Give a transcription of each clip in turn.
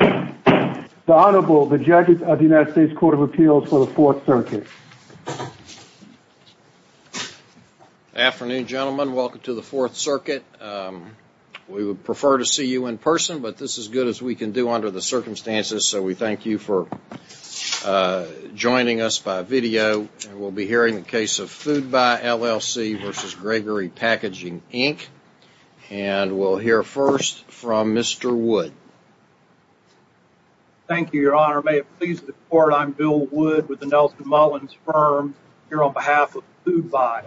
The Honorable, the Judges of the United States Court of Appeals for the Fourth Circuit. Afternoon, gentlemen. Welcome to the Fourth Circuit. We would prefer to see you in person, but this is as good as we can do under the circumstances, so we thank you for joining us by video. We'll be hearing the case of Foodbuy, LLC v. Gregory Packaging, Inc. And we'll hear first from Mr. Wood. Thank you, Your Honor. May it please the Court, I'm Bill Wood with the Nelson Mullins Firm, here on behalf of Foodbuy.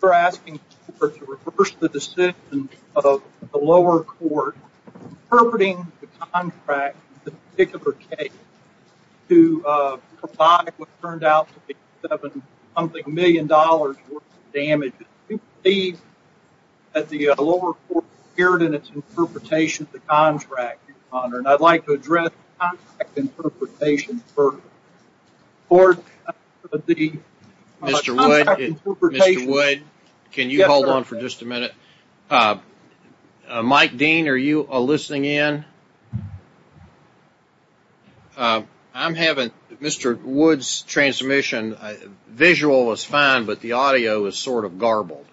We're asking the Court to reverse the decision of the lower court interpreting the contract in this particular case to provide what turned out to be seven-something million dollars worth of damages. We believe that the lower court appeared in its interpretation of the contract, Your Honor, and I'd like to address the contract interpretation first. Mr. Wood, can you hold on for just a minute? Mike Dean, are you listening in? I'm having Mr. Wood's transmission. Visual is fine, but the audio is sort of garbled.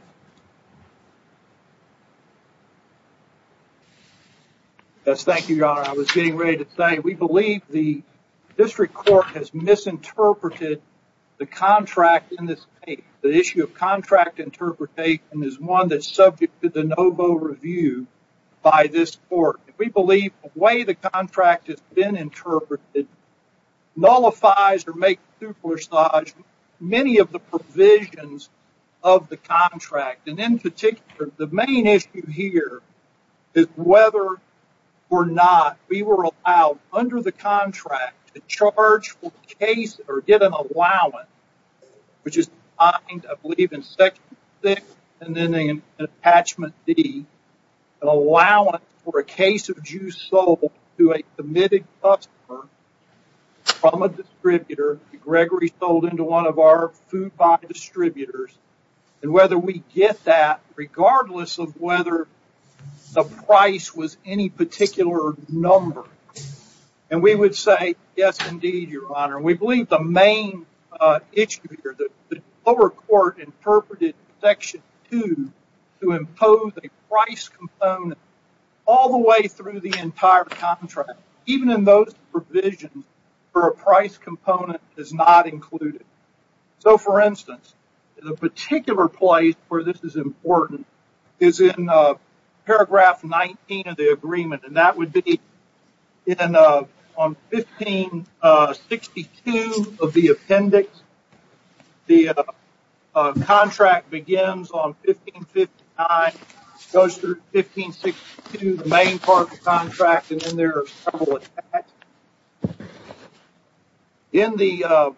Yes, thank you, Your Honor. I was getting ready to say, we believe the district court has misinterpreted the contract in this case. The issue of contract interpretation is one that's subject to the NoVo review by this court. We believe the way the contract has been interpreted nullifies or makes supersized many of the provisions of the contract. And in particular, the main issue here is whether or not we were allowed, under the contract, to charge for a case or get an allowance, which is defined, I believe, in Section 6 and then in Attachment D, an allowance for a case of juice sold to a committed customer from a distributor that Gregory sold into one of our food-buying distributors, and whether we get that regardless of whether the price was any particular number. And we would say, yes, indeed, Your Honor. We believe the main issue here, the lower court interpreted Section 2 to impose a price component all the way through the entire contract, even in those provisions where a price component is not included. So, for instance, the particular place where this is important is in Paragraph 19 of the agreement, and that would be on 1562 of the appendix. The contract begins on 1559, goes through 1562, the main part of the contract, and then there are several attacks. In the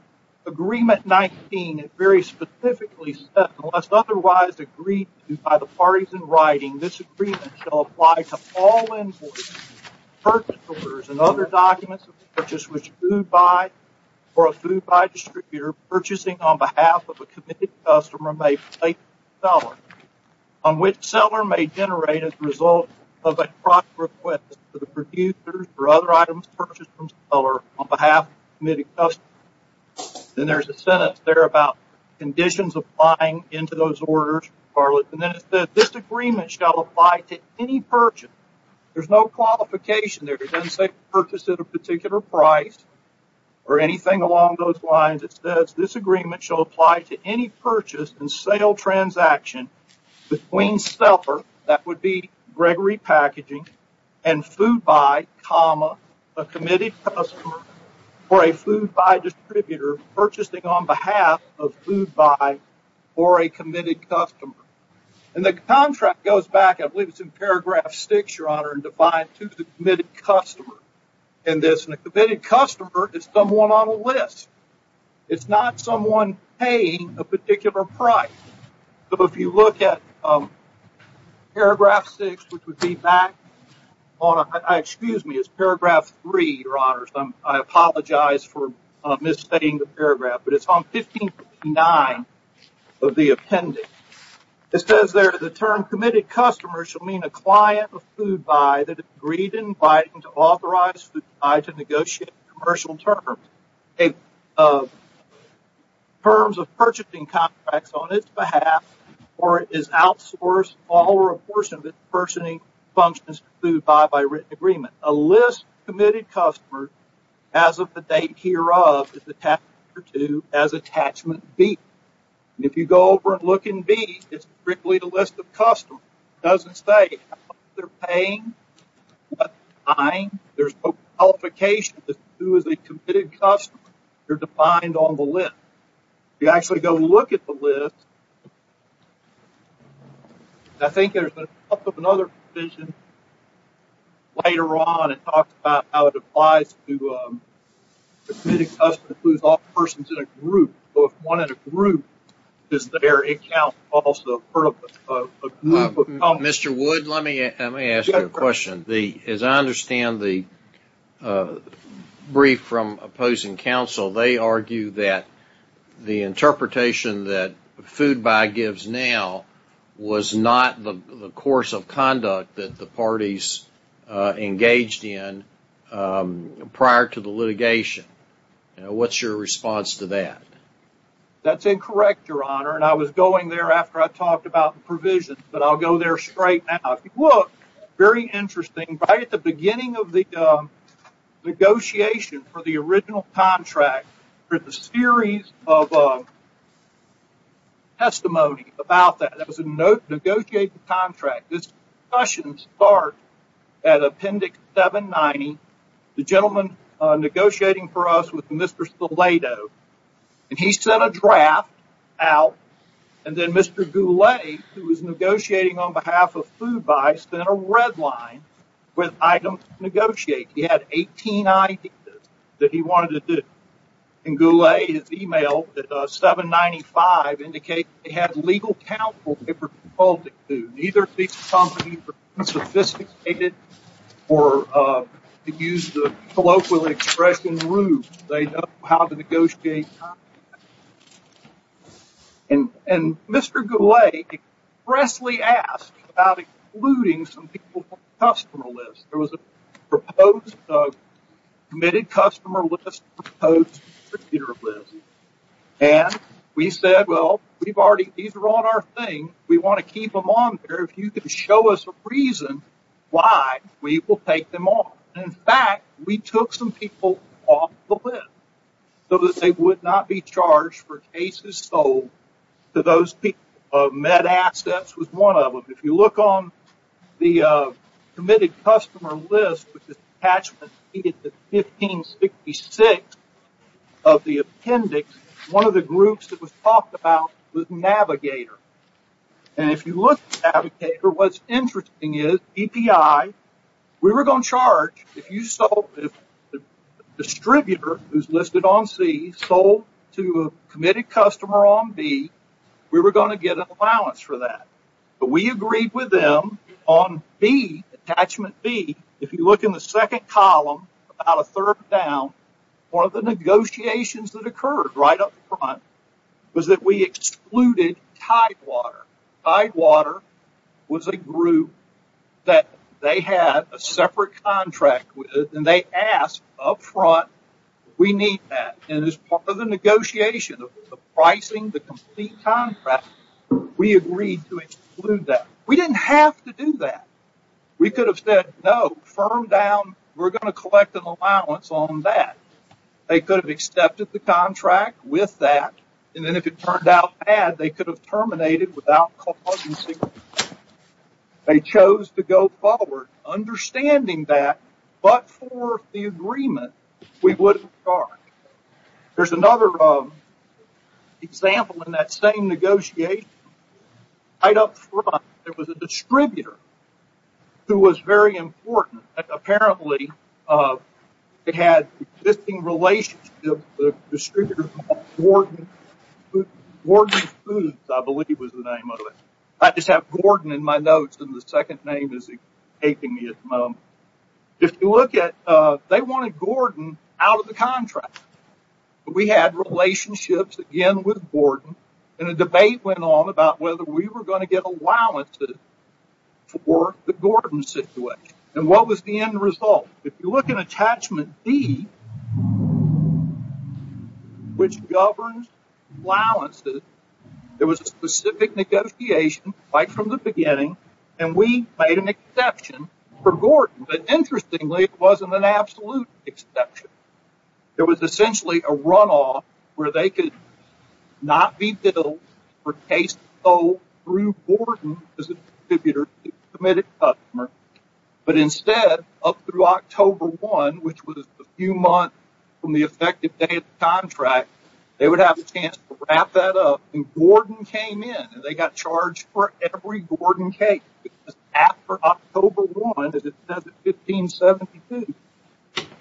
Agreement 19, it very specifically says, And unless otherwise agreed to by the parties in writing, this agreement shall apply to all imports, purchase orders, and other documents of purchase which a food-buy or a food-buy distributor purchasing on behalf of a committed customer may place to the seller, on which the seller may generate as a result of a cross-request to the producers for other items purchased from the seller on behalf of the committed customer. And there's a sentence there about conditions applying into those orders. And then it says, This agreement shall apply to any purchase. There's no qualification there. It doesn't say purchase at a particular price or anything along those lines. It says, This agreement shall apply to any purchase and sale transaction between seller, that would be Gregory Packaging, and food-buy, a committed customer, or a food-buy distributor purchasing on behalf of food-buy or a committed customer. And the contract goes back, I believe it's in Paragraph 6, Your Honor, and defined to the committed customer in this. And a committed customer is someone on a list. It's not someone paying a particular price. So, if you look at Paragraph 6, which would be back on, excuse me, it's Paragraph 3, Your Honor, so I apologize for misstating the paragraph. But it's on 1559 of the appendix. It says there, The term committed customer shall mean a client of food-buy that has agreed and invited to authorize food-buy to negotiate a commercial term. It's a terms of purchasing contracts on its behalf or is outsourced all or a portion of its purchasing functions to food-buy by written agreement. A list of committed customers, as of the date hereof, is attached to as Attachment B. And if you go over and look in B, it's strictly the list of customers. It doesn't say how much they're paying, what time. There's no qualifications as to who is a committed customer. They're defined on the list. If you actually go look at the list, I think there's another provision later on that talks about how it applies to a committed customer who's all persons in a group. So, if one is a group, is their account also part of a group of customers? Mr. Wood, let me ask you a question. As I understand the brief from opposing counsel, they argue that the interpretation that food-buy gives now was not the course of conduct that the parties engaged in prior to the litigation. What's your response to that? That's incorrect, Your Honor, and I was going there after I talked about the provision, but I'll go there straight now. If you look, very interesting, right at the beginning of the negotiation for the original contract, there's a series of testimonies about that. That was a negotiated contract. This discussion starts at Appendix 790. The gentleman negotiating for us was Mr. Stiletto, and he sent a draft out, and then Mr. Goulet, who was negotiating on behalf of food-buy, sent a red line with items to negotiate. He had 18 ideas that he wanted to do, and Goulet, his e-mail at 795, indicates he had legal counsel to report it to. Neither of these companies are sophisticated or to use the colloquial expression rude. They know how to negotiate. And Mr. Goulet expressly asked about excluding some people from the customer list. There was a proposed committed customer list and a proposed distributor list, and we said, well, these are on our thing. We want to keep them on there. If you could show us a reason why we will take them on. In fact, we took some people off the list so that they would not be charged for cases sold to those people. Med Assets was one of them. If you look on the committed customer list, which is attached to 1566 of the appendix, one of the groups that was talked about was Navigator. And if you look at Navigator, what's interesting is EPI, we were going to charge. If the distributor who's listed on C sold to a committed customer on B, we were going to get an allowance for that. But we agreed with them on B, attachment B. If you look in the second column, about a third down, one of the negotiations that occurred right up front was that we excluded Tidewater. Tidewater was a group that they had a separate contract with, and they asked up front, we need that, and as part of the negotiation of the pricing, the complete contract, we agreed to exclude that. We didn't have to do that. We could have said, no, firm down, we're going to collect an allowance on that. They could have accepted the contract with that, and then if it turned out bad, they could have terminated without compulsion. They chose to go forward, understanding that, but for the agreement, we wouldn't charge. There's another example in that same negotiation. Right up front, there was a distributor who was very important. Apparently, it had an existing relationship with a distributor called Gordon Foods, I believe was the name of it. I just have Gordon in my notes, and the second name is escaping me at the moment. If you look at, they wanted Gordon out of the contract. We had relationships, again, with Gordon, and a debate went on about whether we were going to get allowances for the Gordon situation, and what was the end result? If you look in attachment D, which governs allowances, there was a specific negotiation right from the beginning, and we made an exception for Gordon, but interestingly, it wasn't an absolute exception. It was essentially a runoff where they could not be billed for case sold through Gordon as a distributor to a committed customer, but instead, up through October 1, which was a few months from the effective date of the contract, they would have a chance to wrap that up, and Gordon came in, and they got charged for every Gordon case. After October 1, as it says in 1572,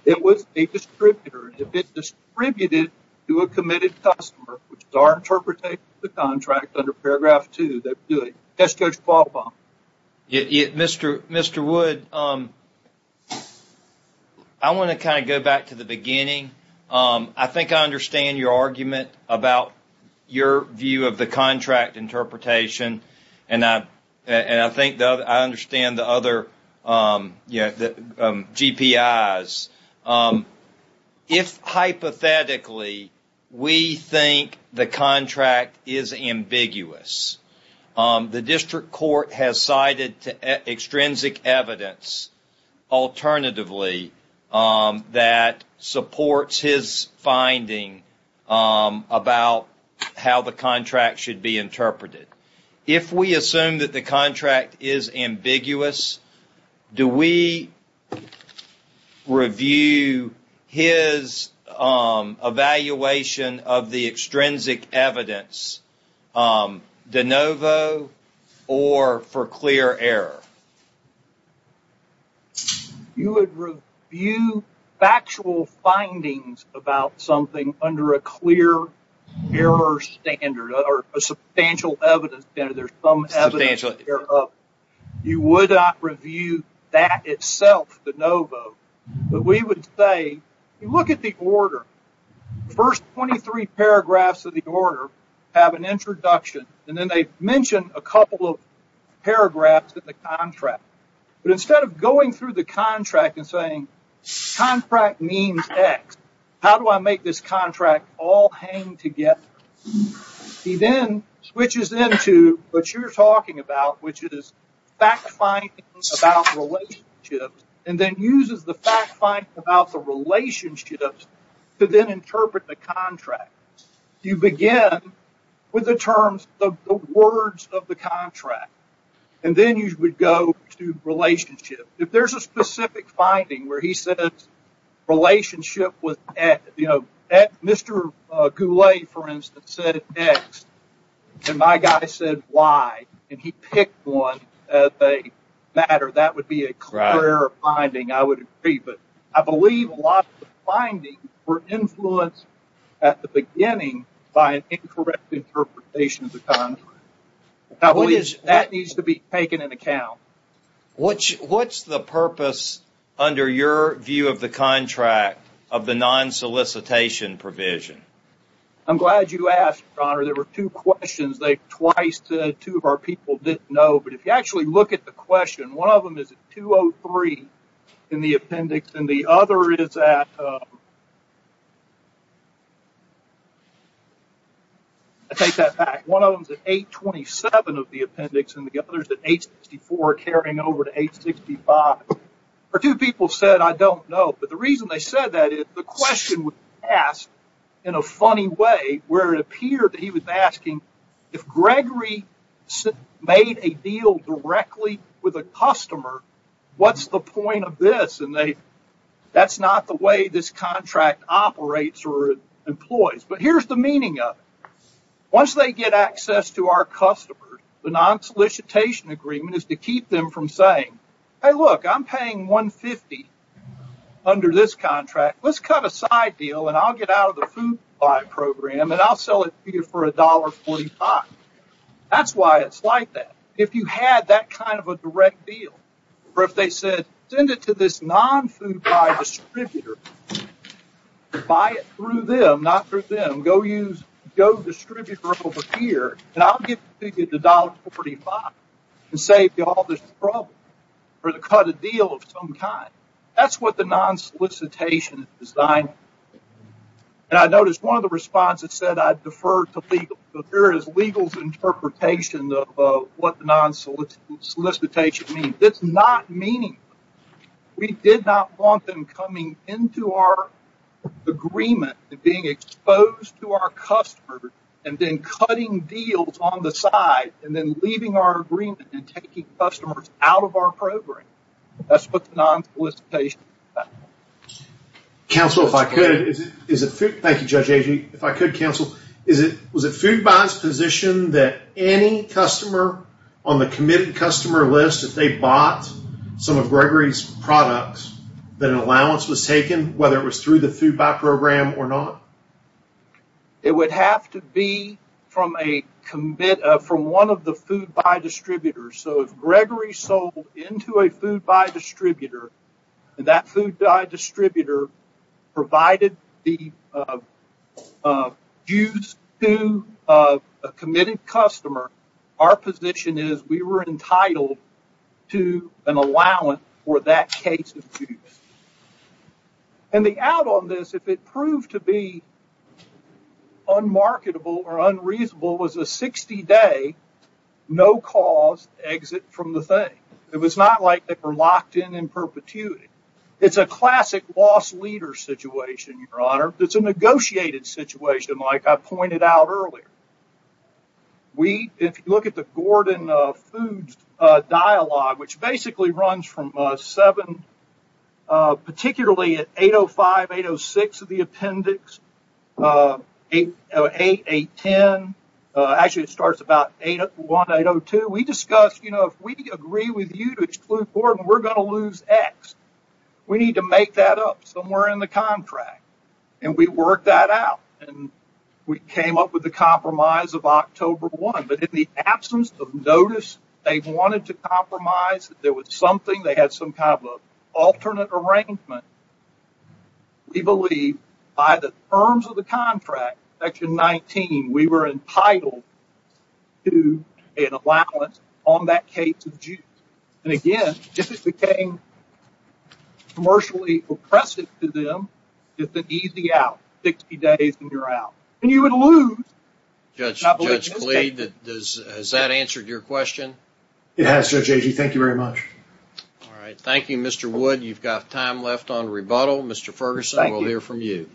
it was a distributor. If it distributed to a committed customer, which is our interpretation of the contract under paragraph 2, that would do it. Yes, Judge Qualpham? Mr. Wood, I want to kind of go back to the beginning. I think I understand your argument about your view of the contract interpretation, and I think I understand the other GPIs. If, hypothetically, we think the contract is ambiguous, the district court has cited extrinsic evidence, alternatively, that supports his finding about how the contract should be interpreted. If we assume that the contract is ambiguous, do we review his evaluation of the extrinsic evidence de novo or for clear error? You would review factual findings about something under a clear error standard or a substantial evidence standard. There's some evidence thereof. You would not review that itself de novo, but we would say, look at the order. The first 23 paragraphs of the order have an introduction, and then they mention a couple of paragraphs in the contract, but instead of going through the contract and saying, contract means X. How do I make this contract all hang together? He then switches into what you're talking about, which is fact-finding about relationships, and then uses the fact-finding about the relationships to then interpret the contract. You begin with the terms of the words of the contract, and then you would go to relationship. If there's a specific finding where he says relationship with X, you know, Mr. Goulet, for instance, said X, and my guy said Y, and he picked one as a matter, that would be a clear finding, I would agree, but I believe a lot of the findings were influenced at the beginning by an incorrect interpretation of the contract. I believe that needs to be taken into account. What's the purpose under your view of the contract of the non-solicitation provision? I'm glad you asked, Your Honor. There were two questions that twice two of our people didn't know, but if you actually look at the question, one of them is at 2.03 in the appendix, and the other is at 8.27 of the appendix, and the other is at 8.64 carrying over to 8.65. Or two people said, I don't know, but the reason they said that is the question was asked in a funny way where it appeared that he was asking if Gregory made a deal directly with a customer, what's the point of this? And that's not the way this contract operates or employs. But here's the meaning of it. Once they get access to our customers, the non-solicitation agreement is to keep them from saying, hey, look, I'm paying 150 under this contract. Let's cut a side deal, and I'll get out of the food buy program, and I'll sell it to you for $1.45. That's why it's like that. If you had that kind of a direct deal, or if they said, send it to this non-food buy distributor, buy it through them, not through them, go use the distributor over here, and I'll give you the $1.45 and save you all this trouble for the cut of deal of some kind. That's what the non-solicitation is designed for. And I noticed one of the responses said, I defer to legal. So here is legal's interpretation of what the non-solicitation means. It's not meaningful. We did not want them coming into our agreement and being exposed to our customers and then cutting deals on the side and then leaving our agreement and taking customers out of our program. That's what the non-solicitation is about. Counsel, if I could. Thank you, Judge Agee. If I could, counsel. Was it food buy's position that any customer on the committed customer list, if they bought some of Gregory's products, that an allowance was taken, whether it was through the food buy program or not? It would have to be from one of the food buy distributors. So if Gregory sold into a food buy distributor, and that food buy distributor provided the use to a committed customer, our position is we were entitled to an allowance for that case of use. And the out on this, if it proved to be unmarketable or unreasonable, was a 60-day no-cause exit from the thing. It was not like they were locked in in perpetuity. It's a classic loss leader situation, Your Honor. It's a negotiated situation, like I pointed out earlier. If you look at the Gordon Foods dialogue, which basically runs from 7, particularly at 805, 806 of the appendix, 808, 810. Actually, it starts about 801, 802. We discussed, you know, if we agree with you to exclude Gordon, we're going to lose X. We need to make that up somewhere in the contract. And we worked that out. And we came up with the compromise of October 1. But in the absence of notice, they wanted to compromise. There was something. They had some kind of alternate arrangement. We believe by the terms of the contract, Section 19, we were entitled to an allowance on that case of use. And, again, if it became commercially oppressive to them, it's an easy out, 60 days and you're out. And you would lose. Judge Klee, has that answered your question? It has, Judge Agee. Thank you very much. All right. Thank you, Mr. Wood. You've got time left on rebuttal. Mr. Ferguson, we'll hear from you.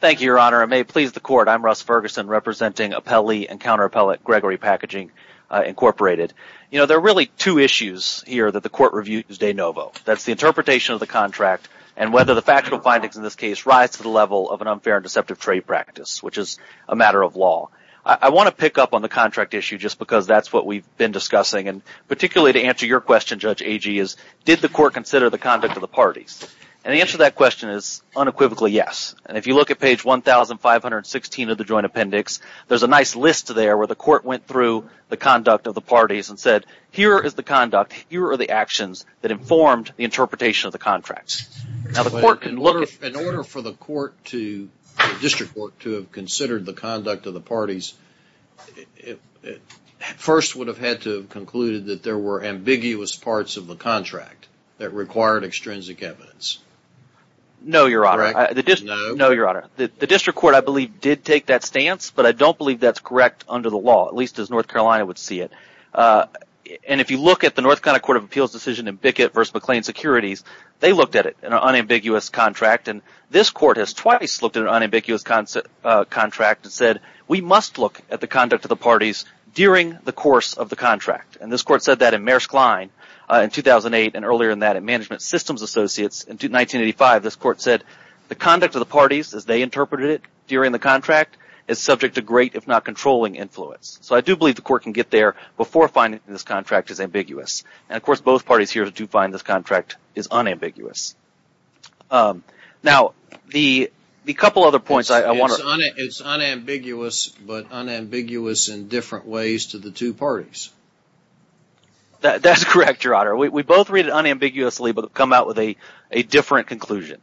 Thank you, Your Honor. I may please the court. I'm Russ Ferguson, representing appellee and counterappellate Gregory Packaging, Incorporated. You know, there are really two issues here that the court reviews de novo. That's the interpretation of the contract and whether the factual findings in this case rise to the level of an unfair and deceptive trade practice, which is a matter of law. I want to pick up on the contract issue just because that's what we've been discussing, and particularly to answer your question, Judge Agee, is did the court consider the conduct of the parties? And the answer to that question is unequivocally yes. And if you look at page 1,516 of the joint appendix, there's a nice list there where the court went through the conduct of the parties and said, here is the conduct, here are the actions that informed the interpretation of the contracts. Now, the court can look at that. In order for the court to, district court, to have considered the conduct of the parties, it first would have had to have concluded that there were ambiguous parts of the contract that required extrinsic evidence. No, Your Honor. No. No, Your Honor. The district court, I believe, did take that stance, but I don't believe that's correct under the law, at least as North Carolina would see it. And if you look at the North Carolina Court of Appeals decision in Bickett v. McLean Securities, they looked at it, an unambiguous contract, and this court has twice looked at an unambiguous contract and said, we must look at the conduct of the parties during the course of the contract. And this court said that in Maersk Line in 2008, and earlier in that in Management Systems Associates in 1985, this court said the conduct of the parties, as they interpreted it during the contract, is subject to great, if not controlling, influence. So I do believe the court can get there before finding this contract is ambiguous. And, of course, both parties here do find this contract is unambiguous. Now, the couple other points I want to. It's unambiguous, but unambiguous in different ways to the two parties. That's correct, Your Honor. We both read it unambiguously, but come out with a different conclusion.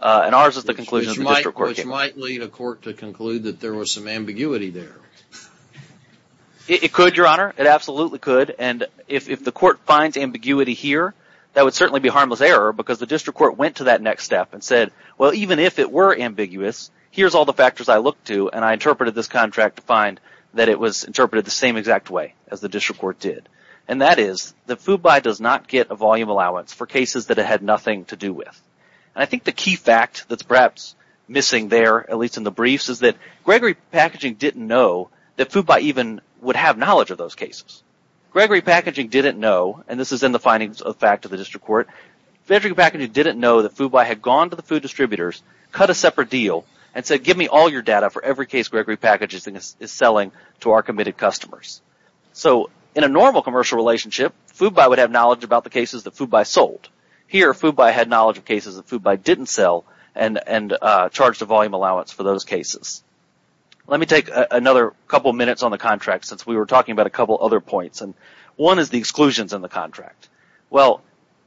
And ours is the conclusion of the district court. Which might lead a court to conclude that there was some ambiguity there. It could, Your Honor. It absolutely could. And if the court finds ambiguity here, that would certainly be harmless error, because the district court went to that next step and said, well, even if it were ambiguous, here's all the factors I looked to, and I interpreted this contract to find that it was interpreted the same exact way as the district court did. And that is that FUBI does not get a volume allowance for cases that it had nothing to do with. And I think the key fact that's perhaps missing there, at least in the briefs, is that Gregory Packaging didn't know that FUBI even would have knowledge of those cases. Gregory Packaging didn't know, and this is in the findings of the fact of the district court, Gregory Packaging didn't know that FUBI had gone to the food distributors, cut a separate deal, and said, give me all your data for every case Gregory Packaging is selling to our committed customers. So in a normal commercial relationship, FUBI would have knowledge about the cases that FUBI sold. Here, FUBI had knowledge of cases that FUBI didn't sell, and charged a volume allowance for those cases. Let me take another couple minutes on the contract, since we were talking about a couple other points. And one is the exclusions in the contract. Well,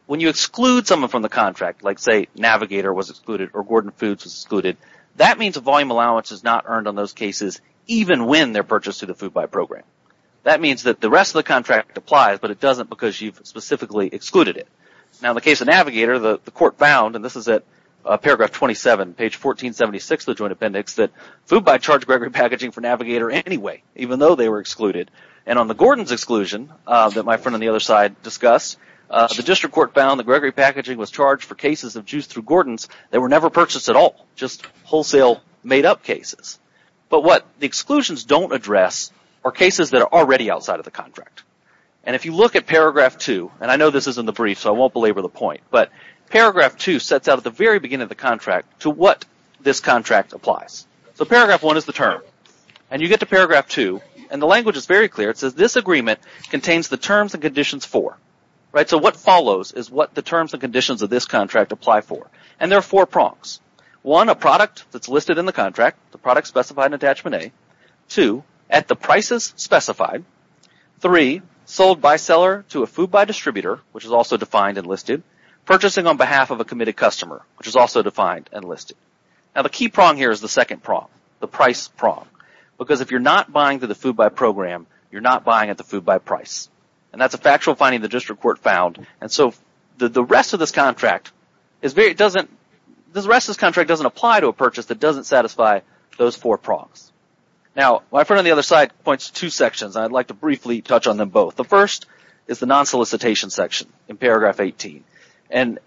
when you exclude someone from the contract, like say Navigator was excluded or Gordon Foods was excluded, that means a volume allowance is not earned on those cases, even when they're purchased through the FUBI program. That means that the rest of the contract applies, but it doesn't because you've specifically excluded it. Now in the case of Navigator, the court found, and this is at paragraph 27, page 1476 of the Joint Appendix, that FUBI charged Gregory Packaging for Navigator anyway, even though they were excluded. And on the Gordon's exclusion, that my friend on the other side discussed, the district court found that Gregory Packaging was charged for cases of juice through Gordon's that were never purchased at all, just wholesale made-up cases. But what the exclusions don't address are cases that are already outside of the contract. And if you look at paragraph 2, and I know this is in the brief, so I won't belabor the point, but paragraph 2 sets out at the very beginning of the contract to what this contract applies. So paragraph 1 is the term, and you get to paragraph 2, and the language is very clear. It says this agreement contains the terms and conditions for. So what follows is what the terms and conditions of this contract apply for. And there are four prongs. One, a product that's listed in the contract, the product specified in Attachment A. Two, at the prices specified. Three, sold by seller to a FUBI distributor, which is also defined and listed. Purchasing on behalf of a committed customer, which is also defined and listed. Now the key prong here is the second prong, the price prong. Because if you're not buying through the FUBI program, you're not buying at the FUBI price. And that's a factual finding the district court found. And so the rest of this contract doesn't apply to a purchase that doesn't satisfy those four prongs. Now my friend on the other side points to two sections, and I'd like to briefly touch on them both. The first is the non-solicitation section in paragraph 18. And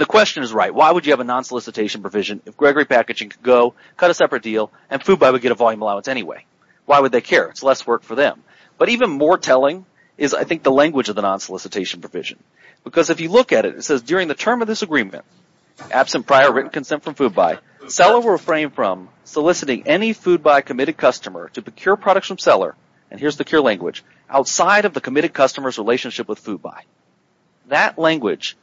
the question is right. Why would you have a non-solicitation provision if Gregory Packaging could go, cut a separate deal, and FUBI would get a volume allowance anyway? Why would they care? It's less work for them. But even more telling is, I think, the language of the non-solicitation provision. Because if you look at it, it says, during the term of this agreement, absent prior written consent from FUBI, seller will refrain from soliciting any FUBI committed customer to procure products from seller. And here's the cure language. Outside of the committed customer's relationship with FUBI. That language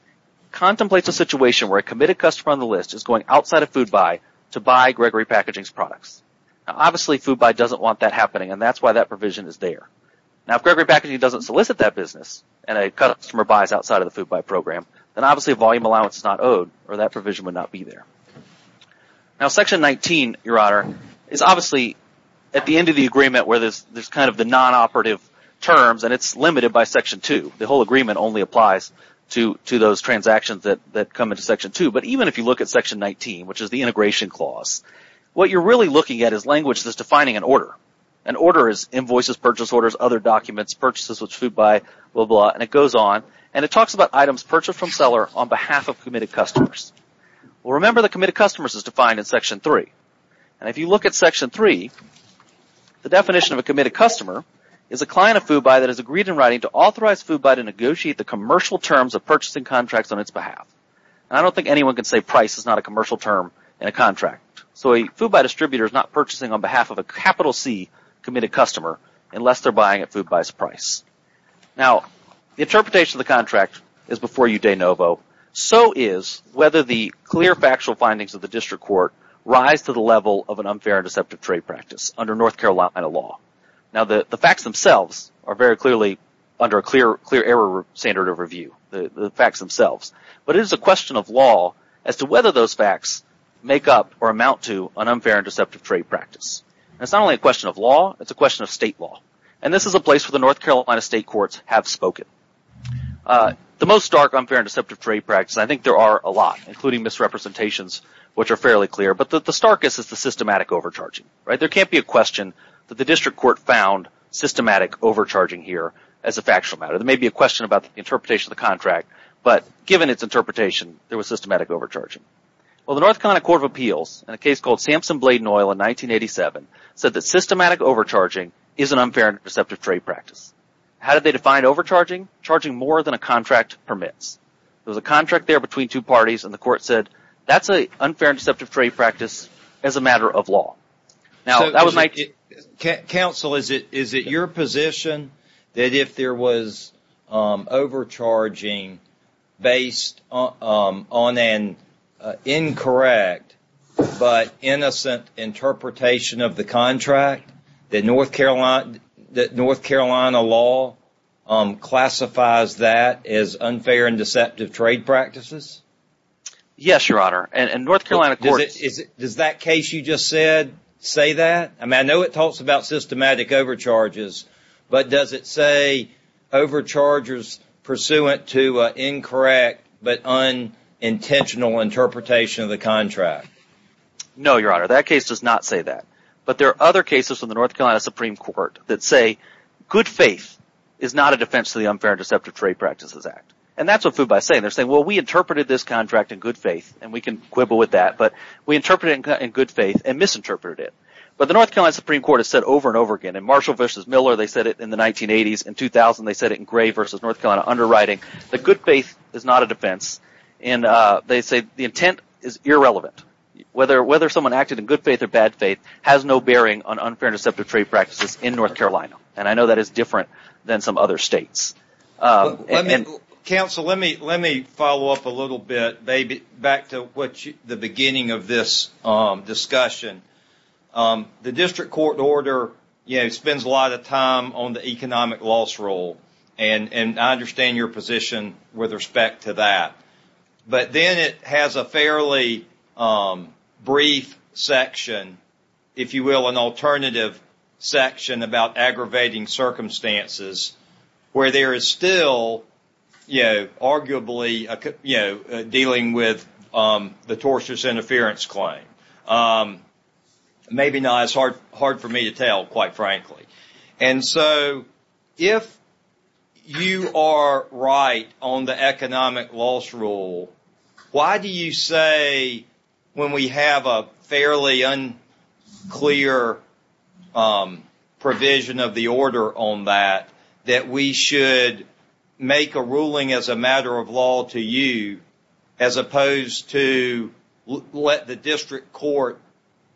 contemplates a situation where a committed customer on the list is going outside of FUBI to buy Gregory Packaging's products. Now obviously FUBI doesn't want that happening, and that's why that provision is there. Now if Gregory Packaging doesn't solicit that business, and a customer buys outside of the FUBI program, then obviously a volume allowance is not owed, or that provision would not be there. Now Section 19, Your Honor, is obviously at the end of the agreement where there's kind of the non-operative terms, and it's limited by Section 2. The whole agreement only applies to those transactions that come into Section 2. But even if you look at Section 19, which is the integration clause, what you're really looking at is language that's defining an order. An order is invoices, purchase orders, other documents, purchases with FUBI, blah, blah. And it goes on, and it talks about items purchased from seller on behalf of committed customers. Well, remember that committed customers is defined in Section 3. And if you look at Section 3, the definition of a committed customer is a client of FUBI that has agreed in writing to authorize FUBI to negotiate the commercial terms of purchasing contracts on its behalf. And I don't think anyone can say price is not a commercial term in a contract. So a FUBI distributor is not purchasing on behalf of a capital C committed customer unless they're buying at FUBI's price. Now, the interpretation of the contract is before you, de novo. So is whether the clear factual findings of the district court rise to the level of an unfair and deceptive trade practice under North Carolina law. Now, the facts themselves are very clearly under a clear error standard of review. The facts themselves. But it is a question of law as to whether those facts make up or amount to an unfair and deceptive trade practice. And it's not only a question of law, it's a question of state law. And this is a place where the North Carolina state courts have spoken. The most stark unfair and deceptive trade practice, and I think there are a lot, including misrepresentations, which are fairly clear, but the starkest is the systematic overcharging. There can't be a question that the district court found systematic overcharging here as a factual matter. There may be a question about the interpretation of the contract. But given its interpretation, there was systematic overcharging. Well, the North Carolina Court of Appeals, in a case called Sampson-Bladen Oil in 1987, said that systematic overcharging is an unfair and deceptive trade practice. How did they define overcharging? Charging more than a contract permits. There was a contract there between two parties, and the court said, that's an unfair and deceptive trade practice as a matter of law. Counsel, is it your position that if there was overcharging based on an incorrect but innocent interpretation of the contract, that North Carolina law classifies that as unfair and deceptive trade practices? Yes, Your Honor. Does that case you just said say that? I know it talks about systematic overcharges, but does it say overcharges pursuant to an incorrect but unintentional interpretation of the contract? No, Your Honor. That case does not say that. But there are other cases from the North Carolina Supreme Court that say good faith is not a defense to the unfair and deceptive trade practices act. And that's what FUBA is saying. They're saying, well, we interpreted this contract in good faith, and we can quibble with that, but we interpreted it in good faith and misinterpreted it. But the North Carolina Supreme Court has said over and over again, in Marshall v. Miller, they said it in the 1980s. In 2000, they said it in Gray v. North Carolina, underwriting, that good faith is not a defense. They say the intent is irrelevant. Whether someone acted in good faith or bad faith has no bearing on unfair and deceptive trade practices in North Carolina. And I know that is different than some other states. Counsel, let me follow up a little bit, back to the beginning of this discussion. The district court order spends a lot of time on the economic loss rule. And I understand your position with respect to that. But then it has a fairly brief section, if you will, an alternative section about aggravating circumstances, where there is still arguably dealing with the tortious interference claim. Maybe not as hard for me to tell, quite frankly. And so if you are right on the economic loss rule, why do you say when we have a fairly unclear provision of the order on that, that we should make a ruling as a matter of law to you, as opposed to let the district court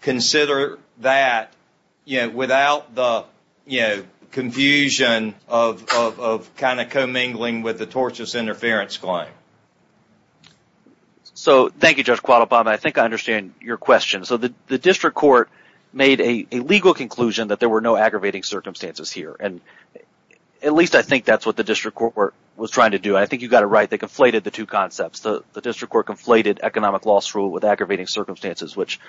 consider that without the confusion of kind of commingling with the tortious interference claim? So thank you, Judge Quattlebaum. I think I understand your question. So the district court made a legal conclusion that there were no aggravating circumstances here. And at least I think that's what the district court was trying to do. I think you got it right. They conflated the two concepts. The district court conflated economic loss rule with aggravating circumstances, which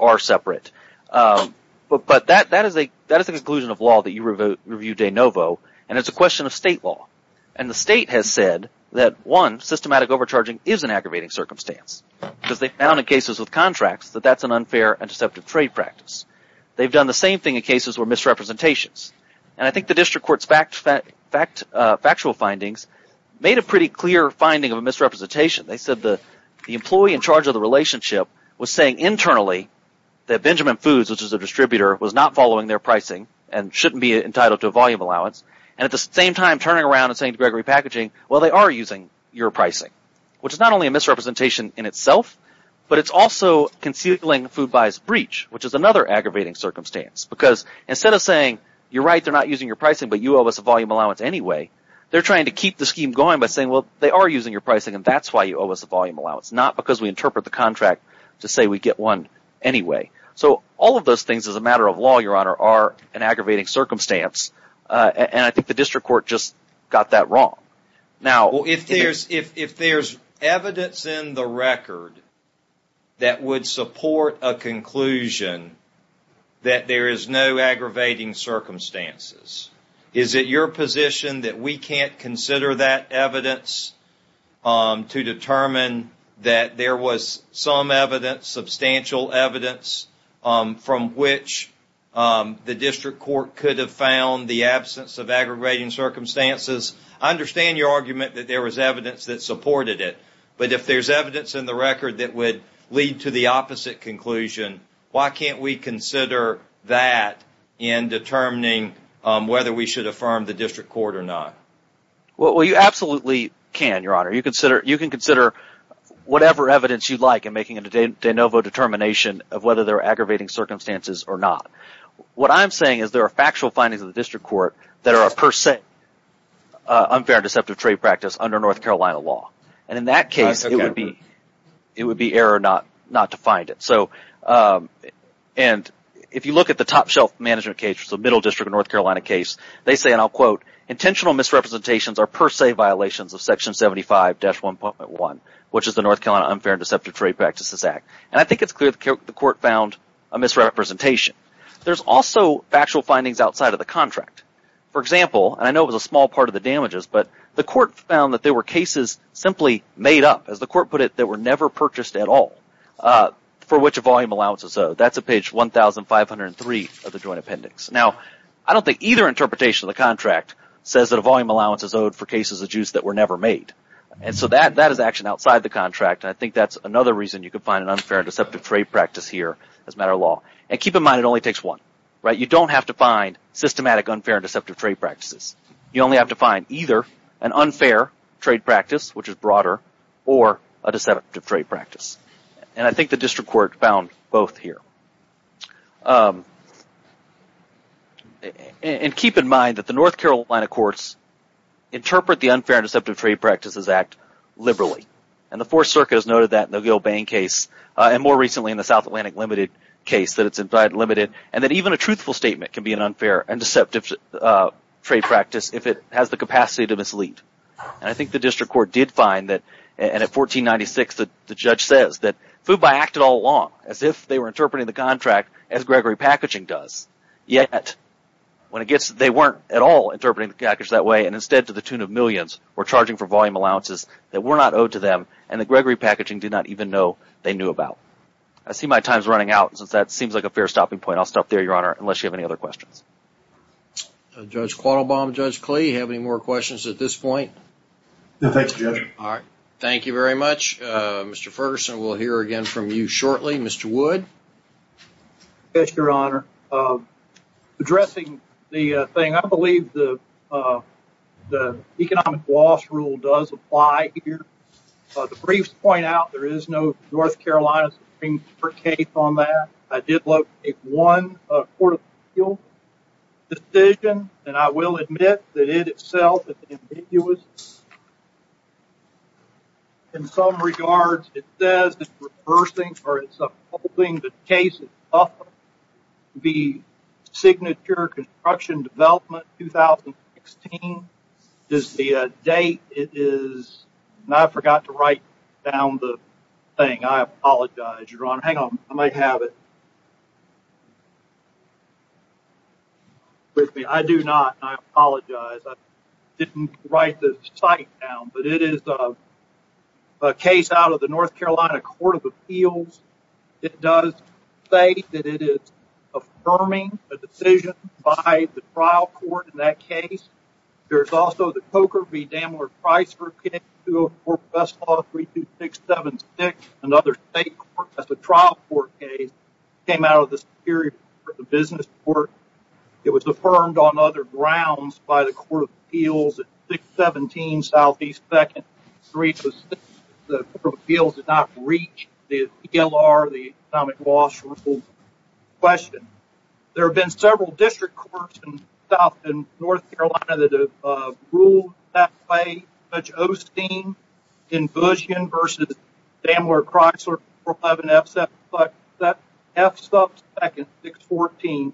are separate. But that is the conclusion of law that you reviewed de novo, and it's a question of state law. And the state has said that, one, systematic overcharging is an aggravating circumstance. Because they found in cases with contracts that that's an unfair and deceptive trade practice. They've done the same thing in cases where misrepresentations. And I think the district court's factual findings made a pretty clear finding of a misrepresentation. They said the employee in charge of the relationship was saying internally that Benjamin Foods, which is a distributor, was not following their pricing and shouldn't be entitled to a volume allowance. And at the same time, turning around and saying to Gregory Packaging, well, they are using your pricing, which is not only a misrepresentation in itself, but it's also concealing food buyers' breach, which is another aggravating circumstance. Because instead of saying, you're right, they're not using your pricing, but you owe us a volume allowance anyway, they're trying to keep the scheme going by saying, well, they are using your pricing, and that's why you owe us a volume allowance, not because we interpret the contract to say we get one anyway. So all of those things, as a matter of law, Your Honor, are an aggravating circumstance. And I think the district court just got that wrong. Well, if there's evidence in the record that would support a conclusion that there is no aggravating circumstances, is it your position that we can't consider that evidence to determine that there was some evidence, substantial evidence, from which the district court could have found the absence of aggravating circumstances? I understand your argument that there was evidence that supported it, but if there's evidence in the record that would lead to the opposite conclusion, why can't we consider that in determining whether we should affirm the district court or not? Well, you absolutely can, Your Honor. You can consider whatever evidence you'd like in making a de novo determination of whether there are aggravating circumstances or not. What I'm saying is there are factual findings in the district court that are a per se unfair and deceptive trade practice under North Carolina law. And in that case, it would be error not to find it. And if you look at the Top Shelf Management case, which is a Middle District of North Carolina case, they say, and I'll quote, intentional misrepresentations are per se violations of Section 75-1.1, which is the North Carolina Unfair and Deceptive Trade Practices Act. And I think it's clear the court found a misrepresentation. There's also factual findings outside of the contract. For example, and I know it was a small part of the damages, but the court found that there were cases simply made up, as the court put it, that were never purchased at all. For which a volume allowance is owed. That's at page 1503 of the joint appendix. Now, I don't think either interpretation of the contract says that a volume allowance is owed for cases of juice that were never made. And so that is actually outside the contract. And I think that's another reason you could find an unfair and deceptive trade practice here as a matter of law. And keep in mind, it only takes one. You don't have to find systematic unfair and deceptive trade practices. You only have to find either an unfair trade practice, which is broader, or a deceptive trade practice. And I think the district court found both here. And keep in mind that the North Carolina courts interpret the Unfair and Deceptive Trade Practices Act liberally. And the Fourth Circuit has noted that in the Gilbane case, and more recently in the South Atlantic Limited case that it's in fact limited. And that even a truthful statement can be an unfair and deceptive trade practice if it has the capacity to mislead. And I think the district court did find that. And at 1496, the judge says that FUBI acted all along as if they were interpreting the contract as Gregory Packaging does. Yet, when it gets – they weren't at all interpreting the package that way. And instead, to the tune of millions, were charging for volume allowances that were not owed to them. And that Gregory Packaging did not even know they knew about. I see my time's running out. Since that seems like a fair stopping point, I'll stop there, Your Honor, unless you have any other questions. Judge Quattlebaum, Judge Klee, do you have any more questions at this point? No, thanks, Judge. All right. Thank you very much. Mr. Ferguson, we'll hear again from you shortly. Mr. Wood? Yes, Your Honor. Addressing the thing, I believe the economic loss rule does apply here. The briefs point out there is no North Carolina Supreme Court case on that. I did look at one court of appeals decision, and I will admit that it itself is ambiguous. In some regards, it says it's reversing or it's upholding the case of the Signature Construction Development 2016. The date is – I forgot to write down the thing. I apologize, Your Honor. Hang on. I might have it. I do not. I apologize. I didn't write the site down. But it is a case out of the North Carolina Court of Appeals. It does say that it is affirming a decision by the trial court in that case. There's also the Coker v. Daimler-Price case, 204 Best Law 32676, another state court. That's a trial court case. It came out of the Superior Court, the business court. It was affirmed on other grounds by the Court of Appeals at 617 Southeast 2nd Street. The Court of Appeals did not reach the ELR, the economic loss rule question. There have been several district courts in South and North Carolina that have ruled that way. Judge Osteen in Bush v. Daimler-Price, 411 F-Sub 2nd 614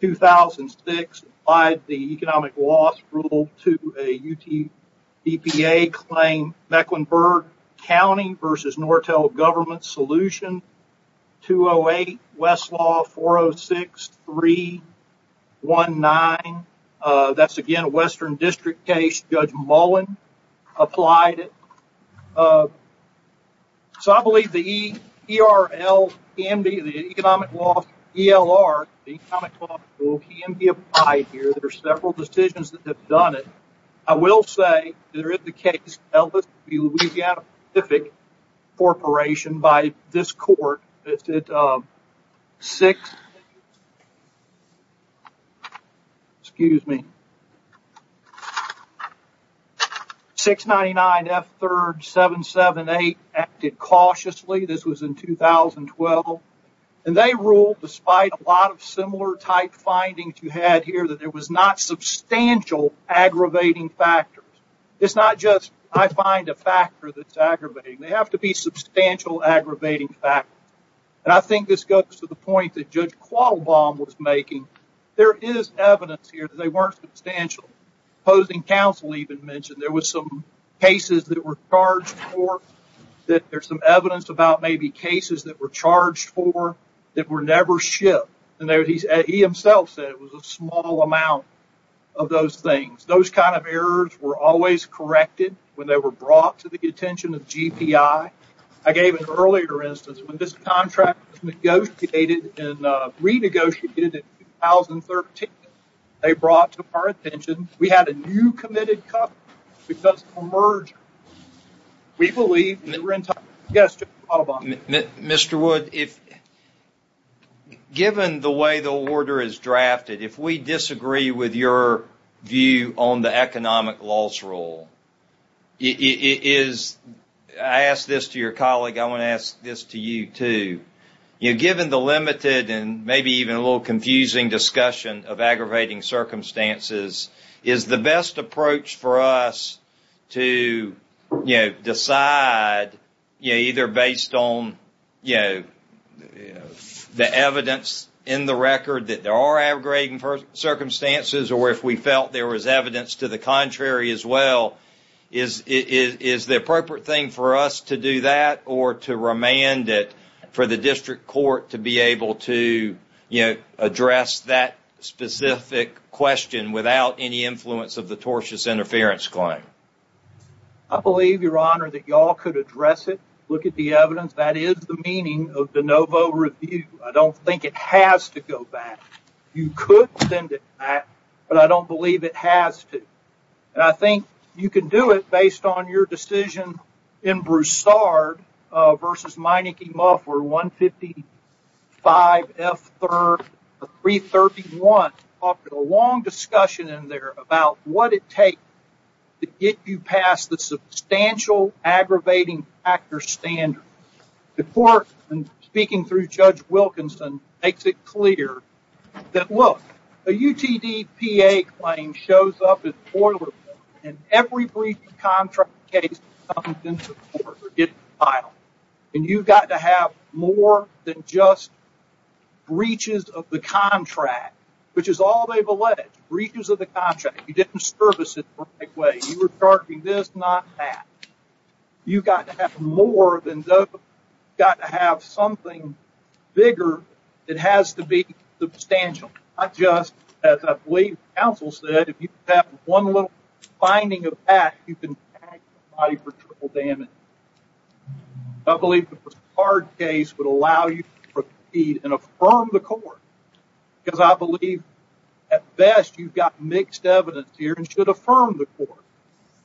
2006, applied the economic loss rule to a UTPA claim. Mecklenburg County v. Nortel Government Solution, 208 Westlaw 406319. That's, again, a western district case. Judge Mullen applied it. I believe the economic loss ELR, the economic loss rule, can be applied here. There are several decisions that have done it. I will say, there is the case, Ellis v. Louisiana Pacific Corporation by this court. It's at 699 F-3rd 778, acted cautiously. This was in 2012. And they ruled, despite a lot of similar type findings you had here, that there was not substantial aggravating factors. It's not just, I find a factor that's aggravating. They have to be substantial aggravating factors. And I think this goes to the point that Judge Quattlebaum was making. There is evidence here that they weren't substantial. Opposing counsel even mentioned there were some cases that were charged for, that there's some evidence about maybe cases that were charged for that were never shipped. And he himself said it was a small amount of those things. Those kind of errors were always corrected when they were brought to the attention of GPI. I gave an earlier instance, when this contract was negotiated and renegotiated in 2013, they brought to our attention, we had a new committed customer because of a merger. We believe that we're in time. Yes, Judge Quattlebaum. Mr. Wood, given the way the order is drafted, if we disagree with your view on the economic loss rule, I ask this to your colleague, I want to ask this to you too. Given the limited and maybe even a little confusing discussion of aggravating circumstances, is the best approach for us to decide, either based on the evidence in the record that there are aggravating circumstances or if we felt there was evidence to the contrary as well, is the appropriate thing for us to do that or to remand it for the district court to be able to address that specific question without any influence of the tortious interference claim? I believe, Your Honor, that you all could address it. Look at the evidence. That is the meaning of de novo review. I don't think it has to go back. You could send it back, but I don't believe it has to. And I think you can do it based on your decision in Broussard versus Meinicke-Muffler, 155F331, offered a long discussion in there about what it takes to get you past the substantial aggravating factor standard. The court, speaking through Judge Wilkinson, makes it clear that, look, a UTDPA claim shows up as boilerplate, and every breach of contract case comes into court or gets filed. And you've got to have more than just breaches of the contract, which is all they've alleged, breaches of the contract. You didn't service it the right way. You were charging this, not that. You've got to have more than that. You've got to have something bigger that has to be substantial, not just, as I believe counsel said, if you have one little finding of that, you can tag somebody for triple damage. I believe the Broussard case would allow you to proceed and affirm the court because I believe, at best, you've got mixed evidence here and should affirm the court.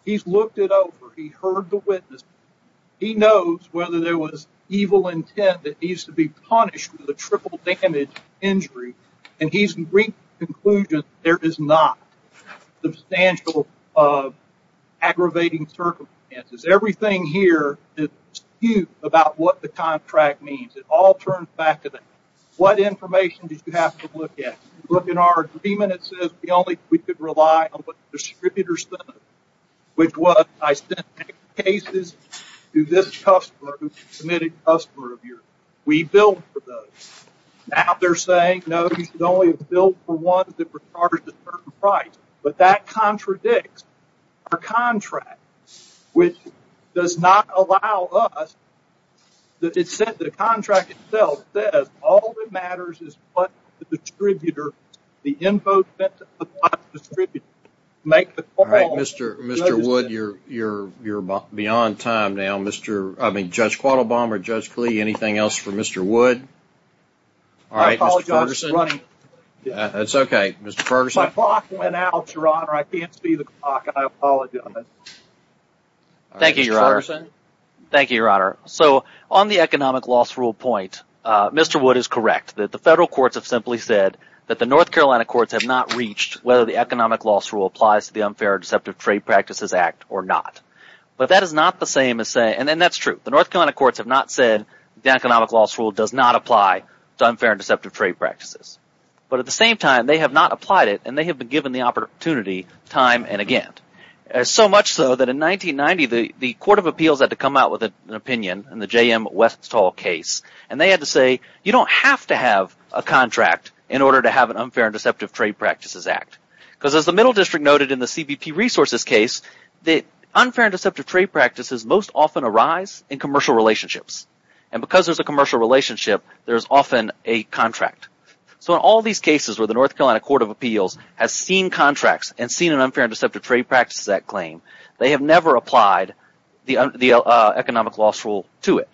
He's looked it over. He heard the witness. He knows whether there was evil intent that needs to be punished with a triple damage injury, and he's reached the conclusion that there is not substantial aggravating circumstances. Everything here is skewed about what the contract means. It all turns back to that. What information did you have to look at? Look in our agreement, it says we could rely on what the distributors sent us, which was I sent cases to this customer who's a committed customer of yours. We billed for those. Now they're saying, no, you should only bill for ones that were charged a certain price, but that contradicts our contract, which does not allow us. The contract itself says all that matters is what the distributor, the info sent to the distributor, make the call. Mr. Wood, you're beyond time now. Judge Quattlebaum or Judge Klee, anything else for Mr. Wood? I apologize for running. That's okay, Mr. Ferguson. My clock went out, Your Honor. I can't see the clock, and I apologize. Thank you, Your Honor. On the economic loss rule point, Mr. Wood is correct. The federal courts have simply said that the North Carolina courts have not reached whether the economic loss rule applies to the Unfair and Deceptive Trade Practices Act or not. But that is not the same as saying, and that's true. The North Carolina courts have not said the economic loss rule does not apply to Unfair and Deceptive Trade Practices. But at the same time, they have not applied it, and they have been given the opportunity time and again. So much so that in 1990, the Court of Appeals had to come out with an opinion in the J.M. Westall case, and they had to say, you don't have to have a contract in order to have an Unfair and Deceptive Trade Practices Act. Because as the Middle District noted in the CBP Resources case, the Unfair and Deceptive Trade Practices most often arise in commercial relationships. And because there's a commercial relationship, there's often a contract. So in all these cases where the North Carolina Court of Appeals has seen contracts and seen an Unfair and Deceptive Trade Practices Act claim, they have never applied the economic loss rule to it.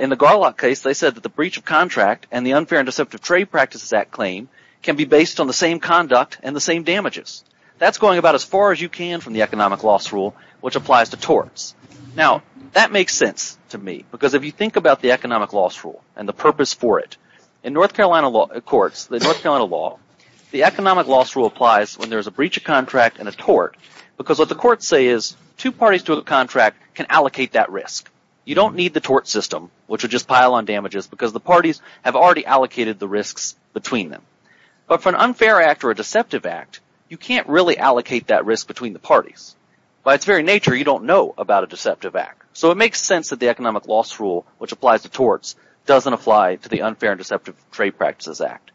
In the Garlock case, they said that the breach of contract and the Unfair and Deceptive Trade Practices Act claim can be based on the same conduct and the same damages. That's going about as far as you can from the economic loss rule, which applies to torts. Now, that makes sense to me because if you think about the economic loss rule and the purpose for it, in North Carolina courts, the North Carolina law, the economic loss rule applies when there's a breach of contract and a tort. Because what the courts say is two parties to a contract can allocate that risk. You don't need the tort system, which would just pile on damages because the parties have already allocated the risks between them. But for an unfair act or a deceptive act, you can't really allocate that risk between the parties. By its very nature, you don't know about a deceptive act. So it makes sense that the economic loss rule, which applies to torts, doesn't apply to the Unfair and Deceptive Trade Practices Act.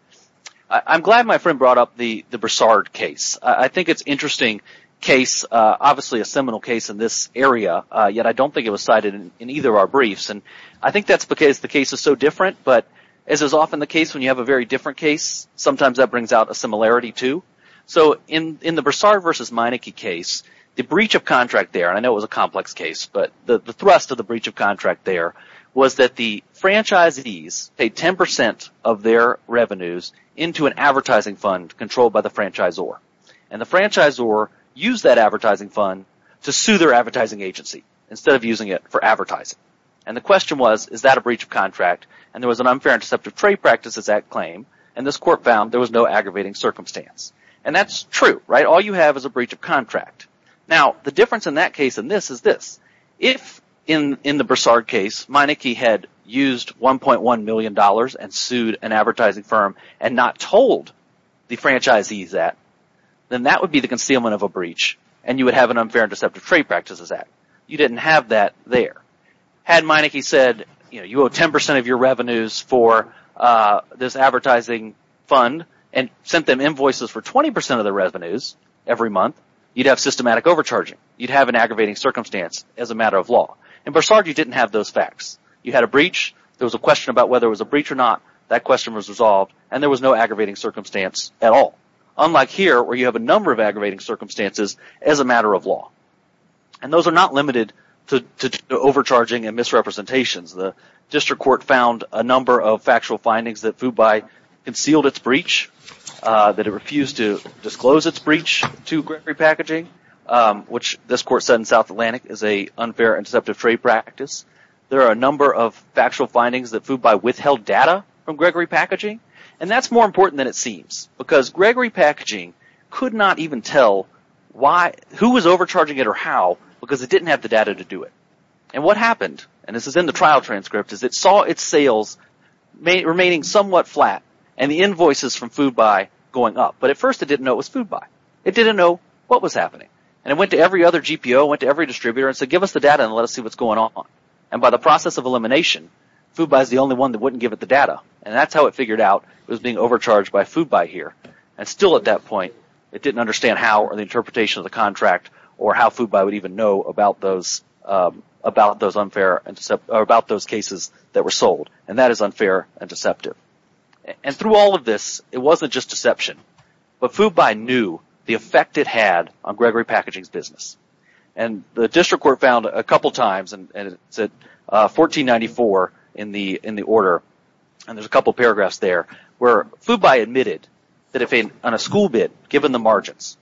I'm glad my friend brought up the Broussard case. I think it's an interesting case, obviously a seminal case in this area. Yet I don't think it was cited in either of our briefs, and I think that's because the case is so different. But as is often the case when you have a very different case, sometimes that brings out a similarity too. So in the Broussard v. Meineke case, the breach of contract there – and I know it was a complex case – but the thrust of the breach of contract there was that the franchisees paid 10% of their revenues into an advertising fund controlled by the franchisor. And the franchisor used that advertising fund to sue their advertising agency instead of using it for advertising. And the question was, is that a breach of contract? And there was an Unfair and Deceptive Trade Practices Act claim, and this court found there was no aggravating circumstance. And that's true. All you have is a breach of contract. Now, the difference in that case and this is this. If in the Broussard case Meineke had used $1.1 million and sued an advertising firm and not told the franchisees that, then that would be the concealment of a breach. And you would have an Unfair and Deceptive Trade Practices Act. You didn't have that there. Had Meineke said, you know, you owe 10% of your revenues for this advertising fund and sent them invoices for 20% of their revenues every month, you'd have systematic overcharging. You'd have an aggravating circumstance as a matter of law. In Broussard, you didn't have those facts. You had a breach. There was a question about whether it was a breach or not. That question was resolved, and there was no aggravating circumstance at all. Unlike here, where you have a number of aggravating circumstances as a matter of law. And those are not limited to overcharging and misrepresentations. The district court found a number of factual findings that FUBI concealed its breach, that it refused to disclose its breach to Gregory Packaging, which this court said in South Atlantic is an unfair and deceptive trade practice. There are a number of factual findings that FUBI withheld data from Gregory Packaging, and that's more important than it seems. Because Gregory Packaging could not even tell who was overcharging it or how because it didn't have the data to do it. And what happened, and this is in the trial transcript, is it saw its sales remaining somewhat flat and the invoices from FUBI going up. But at first, it didn't know it was FUBI. It didn't know what was happening. And it went to every other GPO. It went to every distributor and said, give us the data and let us see what's going on. And by the process of elimination, FUBI is the only one that wouldn't give it the data. And that's how it figured out it was being overcharged by FUBI here. And still at that point, it didn't understand how or the interpretation of the contract or how FUBI would even know about those cases that were sold. And that is unfair and deceptive. And through all of this, it wasn't just deception. But FUBI knew the effect it had on Gregory Packaging's business. And the district court found a couple times, and it's at 1494 in the order, and there's a couple paragraphs there, where FUBI admitted that on a school bid, given the margins,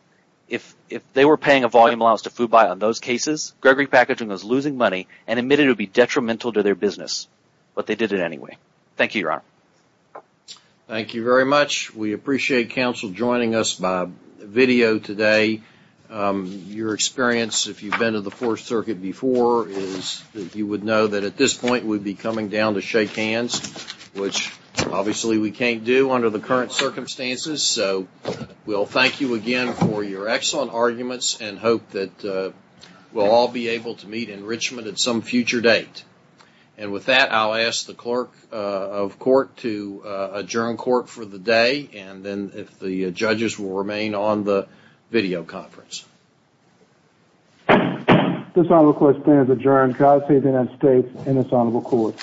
if they were paying a volume allowance to FUBI on those cases, Gregory Packaging was losing money and admitted it would be detrimental to their business. But they did it anyway. Thank you, Your Honor. Thank you very much. We appreciate counsel joining us by video today. Your experience, if you've been to the Fourth Circuit before, is that you would know that at this point, we'd be coming down to shake hands, which obviously we can't do under the current circumstances. So we'll thank you again for your excellent arguments and hope that we'll all be able to meet enrichment at some future date. And with that, I'll ask the clerk of court to adjourn court for the day. And then if the judges will remain on the video conference. This Honorable Court's plan is adjourned. Counsel to the United States and this Honorable Court.